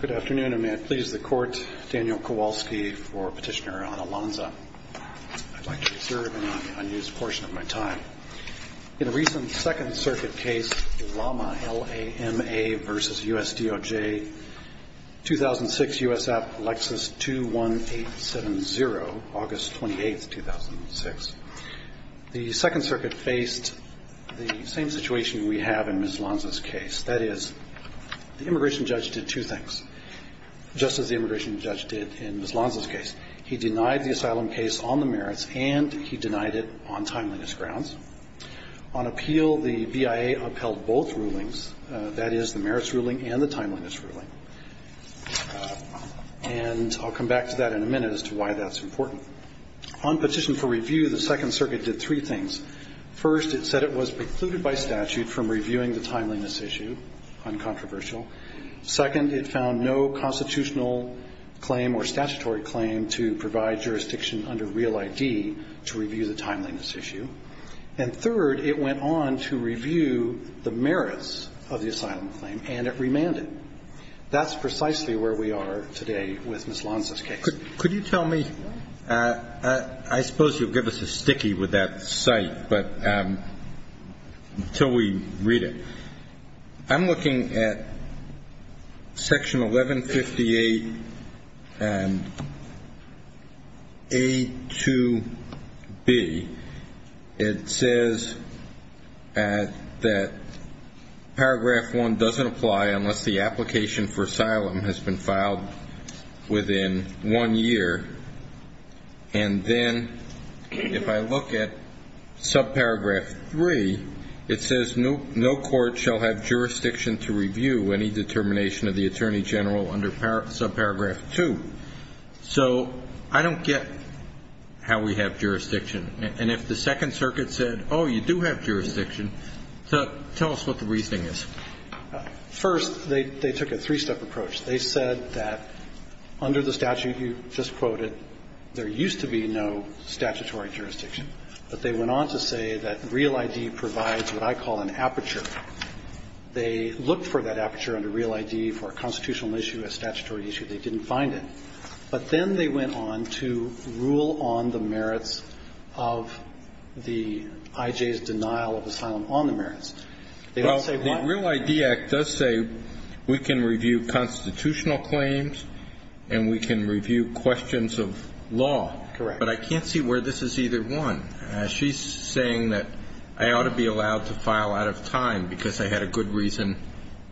Good afternoon, and may I please the Court, Daniel Kowalski, for Petitioner on Alonza. I'd like to reserve an unused portion of my time. In a recent Second Circuit case, Lama, L-A-M-A v. U-S-D-O-J, 2006, U.S. App, Lexus, 2-1-8-7-0, August 28, 2006, the Second Circuit faced the same situation we have in Ms. Lonza's case. That is, the immigration judge did two things, just as the immigration judge did in Ms. Lonza's case. He denied the asylum case on the merits, and he denied it on timeliness grounds. On appeal, the BIA upheld both rulings, that is, the merits ruling and the timeliness ruling. And I'll come back to that in a minute as to why that's important. On petition for review, the Second Circuit did three things. First, it said it was precluded by statute from reviewing the timeliness issue, uncontroversial. Second, it found no constitutional claim or statutory claim to provide jurisdiction under Real ID to review the timeliness issue. And third, it went on to review the merits of the asylum claim, and it remanded. That's precisely where we are today with Ms. Lonza's case. Could you tell me, I suppose you'll give us a sticky with that cite, but until we read it. I'm looking at Section 1158 and A to B. It says that paragraph 1 doesn't apply unless the application for asylum has been filed within one year. And then if I look at subparagraph 3, it says no court shall have jurisdiction to review any determination of the Attorney General under subparagraph 2. So I don't get how we have jurisdiction. And if the Second Circuit said, oh, you do have jurisdiction, tell us what the reasoning is. First, they took a three-step approach. They said that under the statute you just quoted, there used to be no statutory jurisdiction, but they went on to say that Real ID provides what I call an aperture. They looked for that aperture under Real ID for a constitutional issue, a statutory issue. They didn't find it. But then they went on to rule on the merits of the I.J.'s denial of asylum on the merits. They don't say what the real idea does say. We can review constitutional claims and we can review questions of law, but I can't see where this is either one. She's saying that I ought to be allowed to file out of time because I had a good reason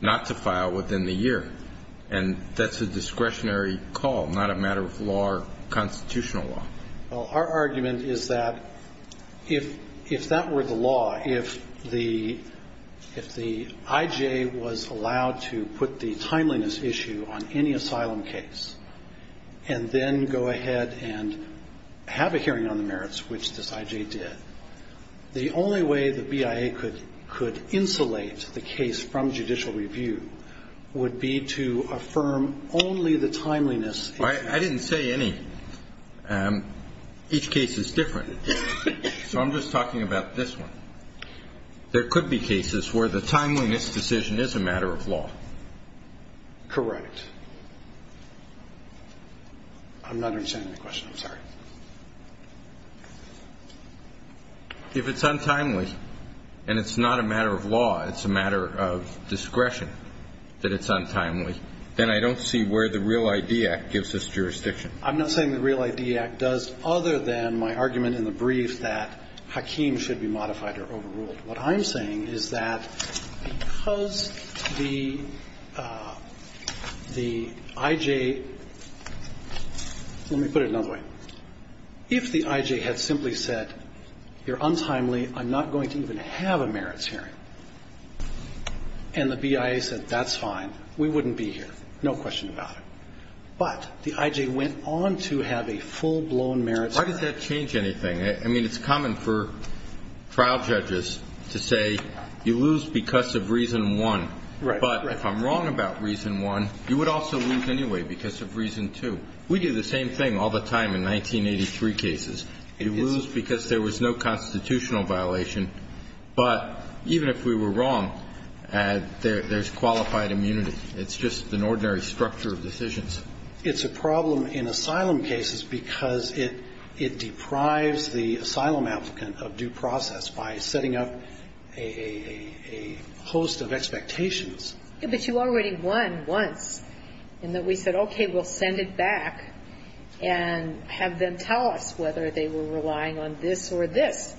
not to file within the year. And that's a discretionary call, not a matter of law or constitutional law. Well, our argument is that if that were the law, if the I.J. was allowed to put the timeliness issue on any asylum case and then go ahead and have a hearing on the merits, which this I.J. did, the only way the BIA could insulate the case from judicial review would be to affirm only the timeliness. I didn't say any. Each case is different. So I'm just talking about this one. There could be cases where the timeliness decision is a matter of law. Correct. I'm not understanding the question. I'm sorry. If it's untimely and it's not a matter of law, it's a matter of discretion that it's a matter of law. I'm not saying the Real ID Act does other than my argument in the brief that Hakeem should be modified or overruled. What I'm saying is that because the I.J. Let me put it another way. If the I.J. had simply said, you're untimely, I'm not going to even have a merits hearing, and the BIA said, that's fine, we wouldn't be here, no question about it. But the I.J. went on to have a full-blown merits hearing. Why does that change anything? I mean, it's common for trial judges to say you lose because of reason one. Right. But if I'm wrong about reason one, you would also lose anyway because of reason two. We do the same thing all the time in 1983 cases. You lose because there was no constitutional violation. But even if we were wrong, there's qualified immunity. It's just an ordinary structure of decisions. It's a problem in asylum cases because it deprives the asylum applicant of due process by setting up a host of expectations. But you already won once in that we said, okay, we'll send it back and have them tell us whether they were relying on this or this.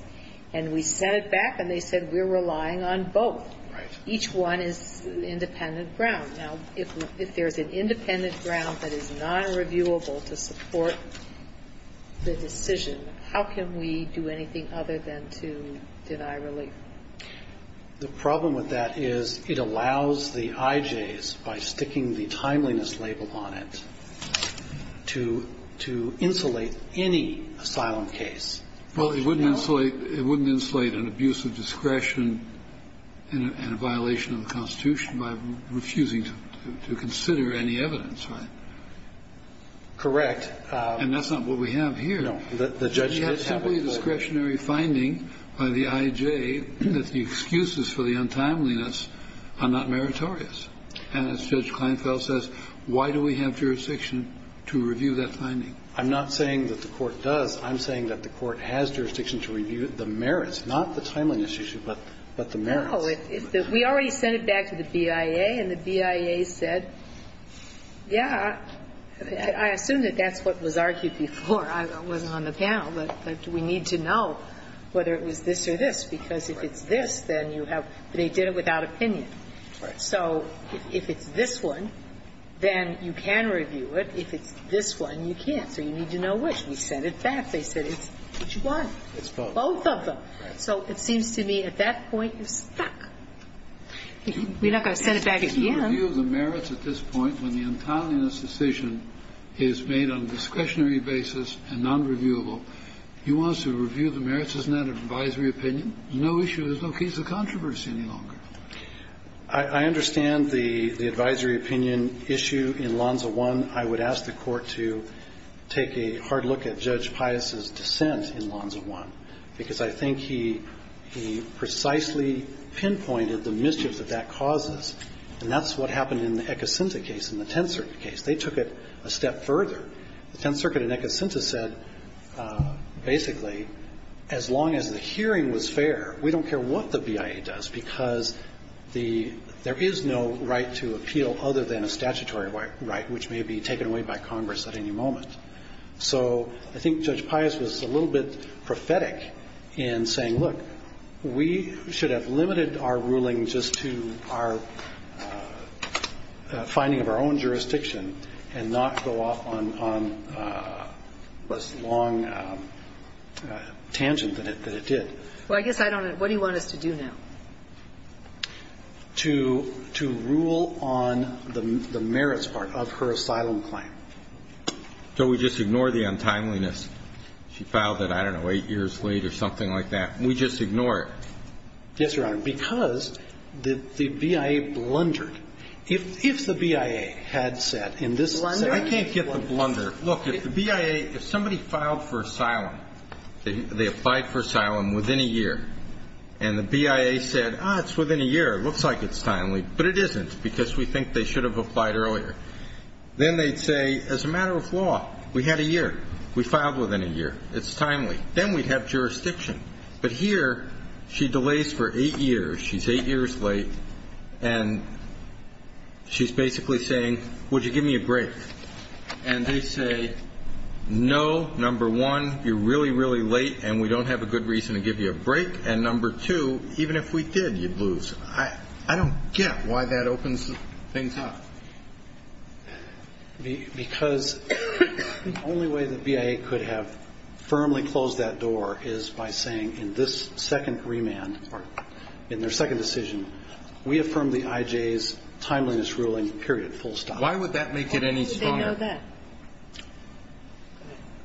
And we sent it back, and they said we're relying on both. Right. Each one is independent ground. Now, if there's an independent ground that is nonreviewable to support the decision, how can we do anything other than to deny relief? The problem with that is it allows the I.J.'s, by sticking the timeliness label on it, to insulate any asylum case. Well, it wouldn't insulate an abuse of discretion and a violation of the Constitution by refusing to consider any evidence, right? Correct. And that's not what we have here. No. We have simply a discretionary finding by the I.J. that the excuses for the untimeliness are not meritorious. And as Judge Kleinfeld says, why do we have jurisdiction to review that finding? I'm not saying that the Court does. I'm saying that the Court has jurisdiction to review the merits, not the timeliness issue, but the merits. Oh, we already sent it back to the BIA, and the BIA said, yeah, I assume that that's what was argued before. I wasn't on the panel. But we need to know whether it was this or this, because if it's this, then you have they did it without opinion. Right. So if it's this one, then you can review it. If it's this one, you can't. So you need to know which. We sent it back. They said it's what you want. It's both. Both of them. Right. So it seems to me at that point, you're stuck. We're not going to send it back at the end. If you review the merits at this point, when the untimeliness decision is made on a discretionary basis and nonreviewable, you want us to review the merits. Isn't that an advisory opinion? There's no issue. There's no case of controversy any longer. I understand the advisory opinion issue in Lonza 1. I would ask the Court to take a hard look at Judge Pius' dissent in Lonza 1, because I think he precisely pinpointed the mischief that that causes. And that's what happened in the Eccocinta case, in the Tenth Circuit case. They took it a step further. The Tenth Circuit in Eccocinta said, basically, as long as the hearing was fair, we don't care what the BIA does, because there is no right to appeal other than a statutory right, which may be taken away by Congress at any moment. So I think Judge Pius was a little bit prophetic in saying, look, we should have limited our ruling just to our finding of our own jurisdiction and not go off on this long tangent that it did. Well, I guess I don't know. What do you want us to do now? To rule on the merits part of her asylum claim. So we just ignore the untimeliness. She filed it, I don't know, eight years late or something like that. We just ignore it. Yes, Your Honor, because the BIA blundered. If the BIA had said in this case. Blunder? I can't get the blunder. Look, if the BIA, if somebody filed for asylum, they applied for asylum within a year, and the BIA said, ah, it's within a year, it looks like it's timely, but it isn't, because we think they should have applied earlier. Then they'd say, as a matter of law, we had a year. We filed within a year. It's timely. Then we'd have jurisdiction. But here, she delays for eight years. She's eight years late. And she's basically saying, would you give me a break? And they say, no, number one, you're really, really late, and we don't have a good reason to give you a break. And number two, even if we did, you'd lose. I don't get why that opens things up. Because the only way the BIA could have firmly closed that door is by saying, in this second remand, in their second decision, we affirm the IJ's timeliness ruling, period, full stop. Why would that make it any stronger? Why would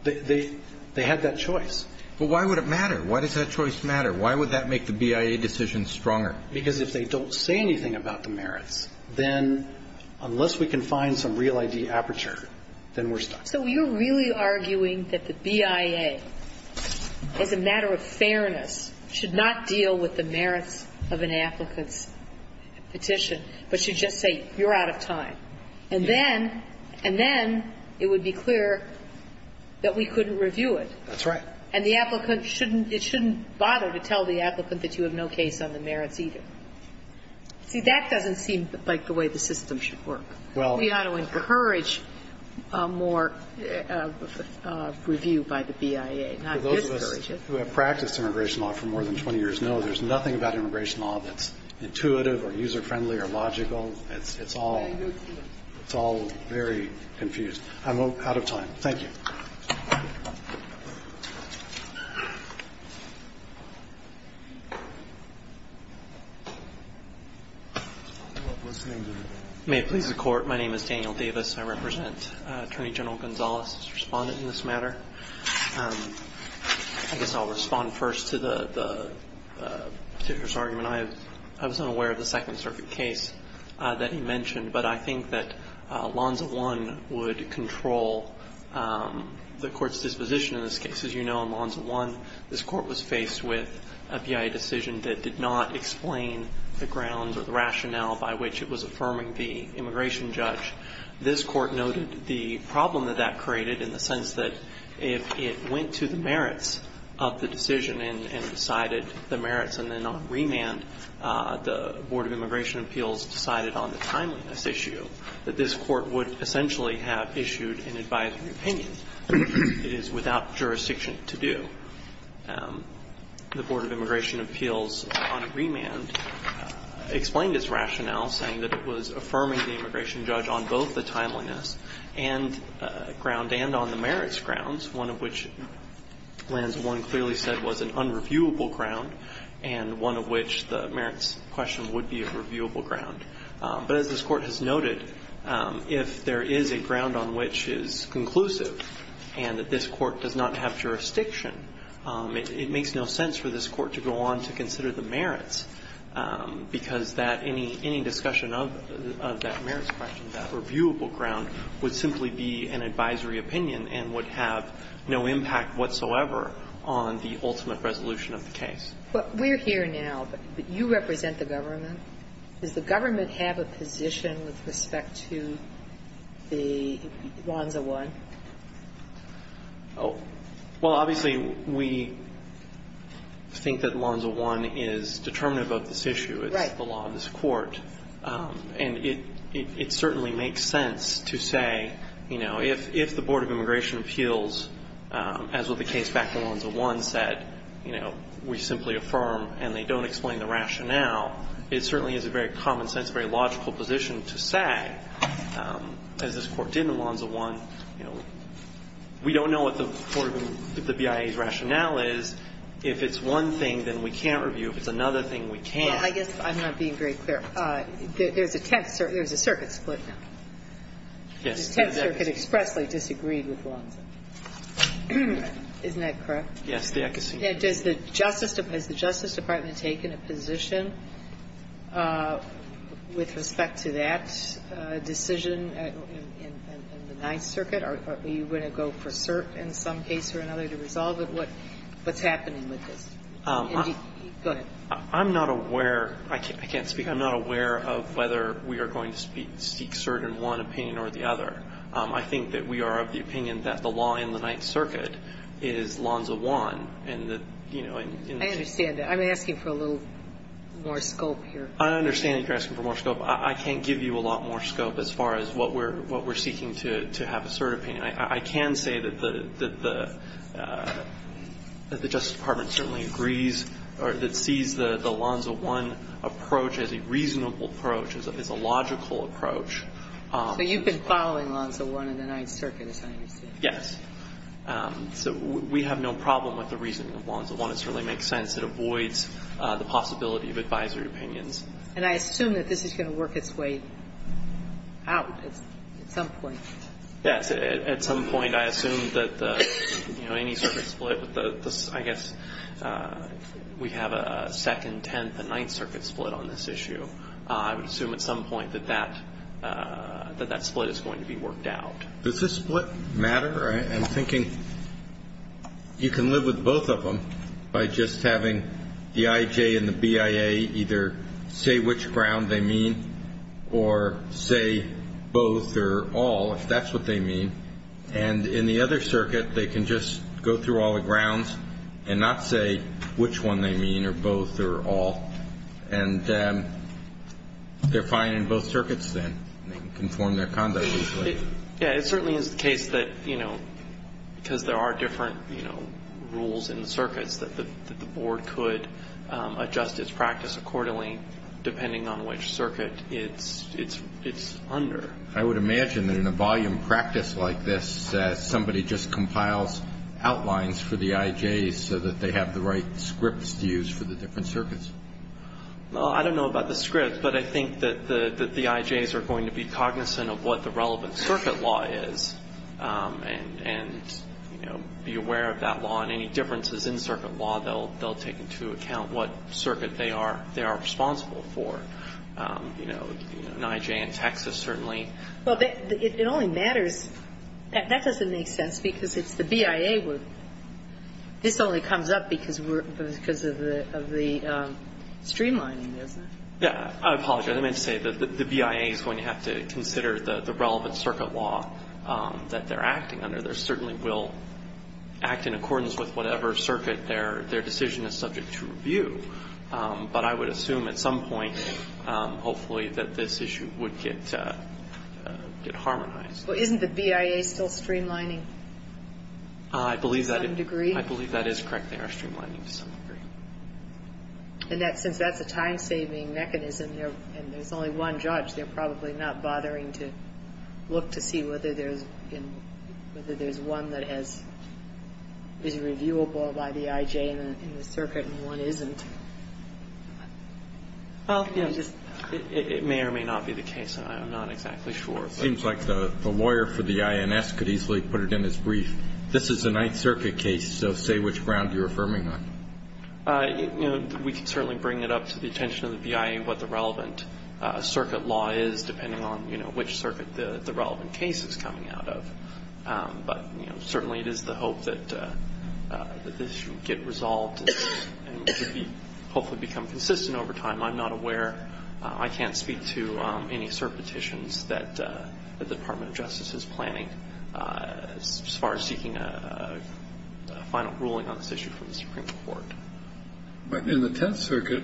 they know that? They had that choice. But why would it matter? Why does that choice matter? Why would that make the BIA decision stronger? Because if they don't say anything about the merits, then unless we can find some real ID aperture, then we're stuck. So you're really arguing that the BIA, as a matter of fairness, should not deal with the merits of an applicant's petition, but should just say, you're out of time. And then it would be clear that we couldn't review it. That's right. And the applicant shouldn't bother to tell the applicant that you have no case on the merits either. See, that doesn't seem like the way the system should work. We ought to encourage more review by the BIA, not discourage it. For those of us who have practiced immigration law for more than 20 years know there's nothing about immigration law that's intuitive or user-friendly or logical. It's all very confused. I'm out of time. Thank you. May it please the Court. My name is Daniel Davis. I represent Attorney General Gonzalez, a respondent in this matter. I guess I'll respond first to the particular argument. I was unaware of the Second Circuit case that he mentioned, but I think that Lonsa I would control the Court's disposition in this case. As you know, in Lonsa I, this Court was faced with a BIA decision that did not explain the grounds or the rationale by which it was affirming the immigration judge. This Court noted the problem that that created in the sense that if it went to the merits of the decision and decided the merits and then on remand, the Board of Immigration Appeals decided on the timeliness issue, that this Court would essentially have issued an advisory opinion. It is without jurisdiction to do. The Board of Immigration Appeals on remand explained its rationale saying that it was affirming the immigration judge on both the timeliness and on the merits grounds, one of which Lonsa I clearly said was an unreviewable ground and one of which the merits question would be a reviewable ground. But as this Court has noted, if there is a ground on which is conclusive and that this Court does not have jurisdiction, it makes no sense for this Court to go on to consider the merits because any discussion of that merits question, that reviewable ground, would simply be an advisory opinion and would have no impact whatsoever on the ultimate resolution of the case. But we're here now, but you represent the government. Does the government have a position with respect to the Lonsa I? Well, obviously, we think that Lonsa I is determinative of this issue. Right. It's the law of this Court. And it certainly makes sense to say, you know, if the Board of Immigration Appeals, as with the case back to Lonsa I, said, you know, we simply affirm and they don't explain the rationale, it certainly is a very common sense, very logical position to say, as this Court did in Lonsa I, you know, we don't know what the BIA's rationale is. If it's one thing, then we can't review. If it's another thing, we can't. Well, I guess I'm not being very clear. There's a circuit split now. Yes. The Ninth Circuit expressly disagreed with Lonsa. Isn't that correct? Yes, the Ecclesine. Has the Justice Department taken a position with respect to that decision in the Ninth Circuit? Are you going to go for cert in some case or another to resolve it? What's happening with this? Go ahead. I'm not aware. I can't speak. I'm not aware of whether we are going to seek cert in one opinion or the other. I think that we are of the opinion that the law in the Ninth Circuit is Lonsa I. I understand that. I'm asking for a little more scope here. I understand that you're asking for more scope. I can't give you a lot more scope as far as what we're seeking to have a cert opinion. I can say that the Justice Department certainly agrees or that sees the Lonsa I approach as a reasonable approach, as a logical approach. So you've been following Lonsa I in the Ninth Circuit, is that what you're saying? Yes. So we have no problem with the reasoning of Lonsa I. It certainly makes sense. It avoids the possibility of advisory opinions. And I assume that this is going to work its way out at some point. Yes. At some point, I assume that, you know, any circuit split, I guess we have a second, tenth and Ninth Circuit split on this issue. I would assume at some point that that split is going to be worked out. Does this split matter? I'm thinking you can live with both of them by just having the IJ and the BIA either say which ground they mean or say both or all, if that's what they mean. And in the other circuit, they can just go through all the grounds and not say which one they mean or both or all. And they're fine in both circuits then. They can conform their conduct. Yes. It certainly is the case that, you know, because there are different rules in the circuits that the board could adjust its practice accordingly depending on which circuit it's under. I would imagine that in a volume practice like this, somebody just compiles outlines for the IJs so that they have the right scripts to use for the different circuits. Well, I don't know about the scripts, but I think that the IJs are going to be cognizant of what the relevant circuit law is and, you know, be aware of that law. And any differences in circuit law, they'll take into account what circuit they are responsible for. You know, an IJ in Texas certainly. Well, it only matters. That doesn't make sense because it's the BIA. This only comes up because of the streamlining, doesn't it? Yeah. I apologize. I meant to say the BIA is going to have to consider the relevant circuit law that they're acting under. They certainly will act in accordance with whatever circuit their decision is subject to review. But I would assume at some point, hopefully, that this issue would get harmonized. Well, isn't the BIA still streamlining to some degree? I believe that is correct. They are streamlining to some degree. And since that's a time-saving mechanism and there's only one judge, they're probably not bothering to look to see whether there's one that is reviewable by the IJ in the circuit and one isn't. Well, you know, it may or may not be the case, and I'm not exactly sure. It seems like the lawyer for the INS could easily put it in his brief. This is a Ninth Circuit case, so say which ground you're affirming on. You know, we could certainly bring it up to the attention of the BIA what the relevant circuit law is depending on, you know, which circuit the relevant case is coming out of. But, you know, certainly it is the hope that this should get resolved and hopefully become consistent over time. I'm not aware. I can't speak to any cert petitions that the Department of Justice is planning as far as seeking a final ruling on this issue from the Supreme Court. In the Tenth Circuit,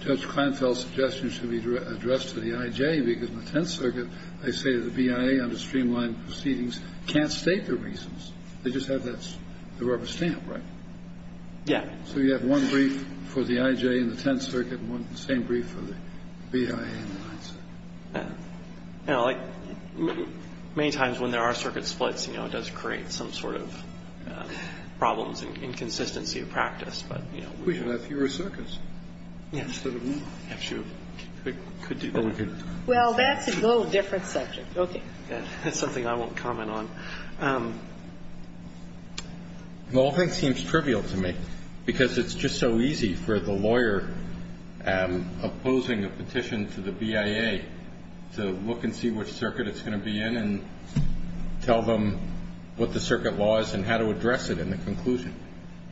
Judge Kleinfeld's suggestion should be addressed to the IJ because in the Tenth Circuit, they say the BIA under streamlined proceedings can't state the reasons. They just have that rubber stamp, right? Yeah. So you have one brief for the IJ in the Tenth Circuit and the same brief for the BIA in the Ninth Circuit. Yeah. You know, like, many times when there are circuit splits, you know, it does create some sort of problems and inconsistency of practice. But, you know, we should have fewer circuits instead of more. I'm sure we could do that. Well, that's a little different subject. Okay. That's something I won't comment on. Well, I think it seems trivial to me because it's just so easy for the lawyer opposing a petition to the BIA to look and see which circuit it's going to be in and tell them what the circuit law is and how to address it in the conclusion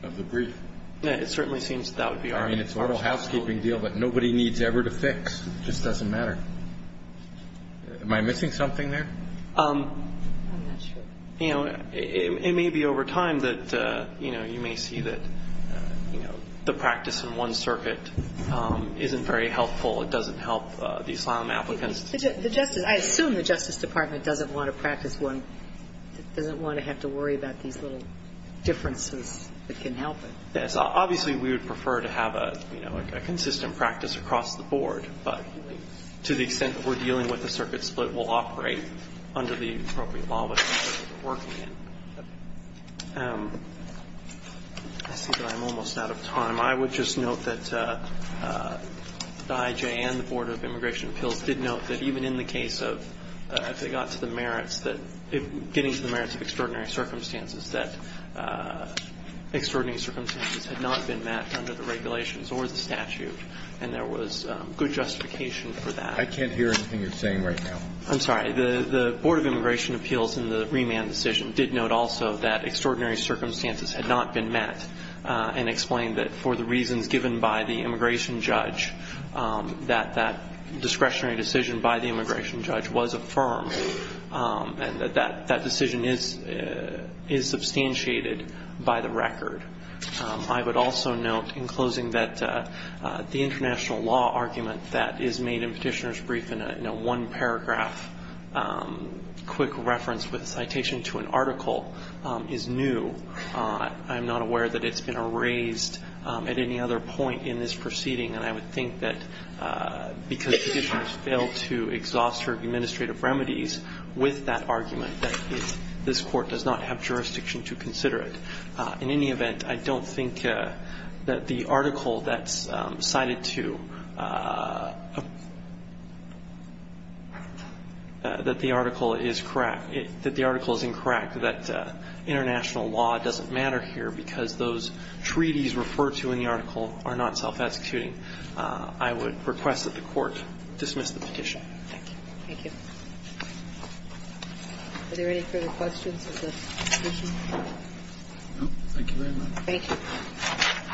of the brief. Yeah. It certainly seems that would be our goal. It's a housekeeping deal that nobody needs ever to fix. It just doesn't matter. Am I missing something there? I'm not sure. You know, it may be over time that, you know, you may see that, you know, the practice in one circuit isn't very helpful. It doesn't help the asylum applicants. I assume the Justice Department doesn't want to practice one. It doesn't want to have to worry about these little differences that can help it. Yes. Obviously, we would prefer to have a consistent practice across the board, but to the extent that we're dealing with the circuit split, we'll operate under the appropriate law that we're working in. I see that I'm almost out of time. I would just note that the IJ and the Board of Immigration Appeals did note that even in the case of if they got to the merits that getting to the merits of extraordinary circumstances had not been met under the regulations or the statute, and there was good justification for that. I can't hear anything you're saying right now. I'm sorry. The Board of Immigration Appeals in the remand decision did note also that extraordinary circumstances had not been met and explained that for the reasons given by the immigration judge, that that discretionary decision by the immigration judge was affirmed and that that decision is substantiated by the record. I would also note in closing that the international law argument that is made in Petitioner's Brief in a one-paragraph quick reference with a citation to an article is new. I'm not aware that it's been erased at any other point in this proceeding, and I would think that because Petitioner failed to exhaust her administrative remedies with that argument that this Court does not have jurisdiction to consider it. In any event, I don't think that the article that's cited to that the article is incorrect, that international law doesn't matter here because those treaties referred to in the article are not self-executing. I would request that the Court dismiss the petition. Thank you. Thank you. Are there any further questions of the petitioner? No. Thank you very much. Thank you.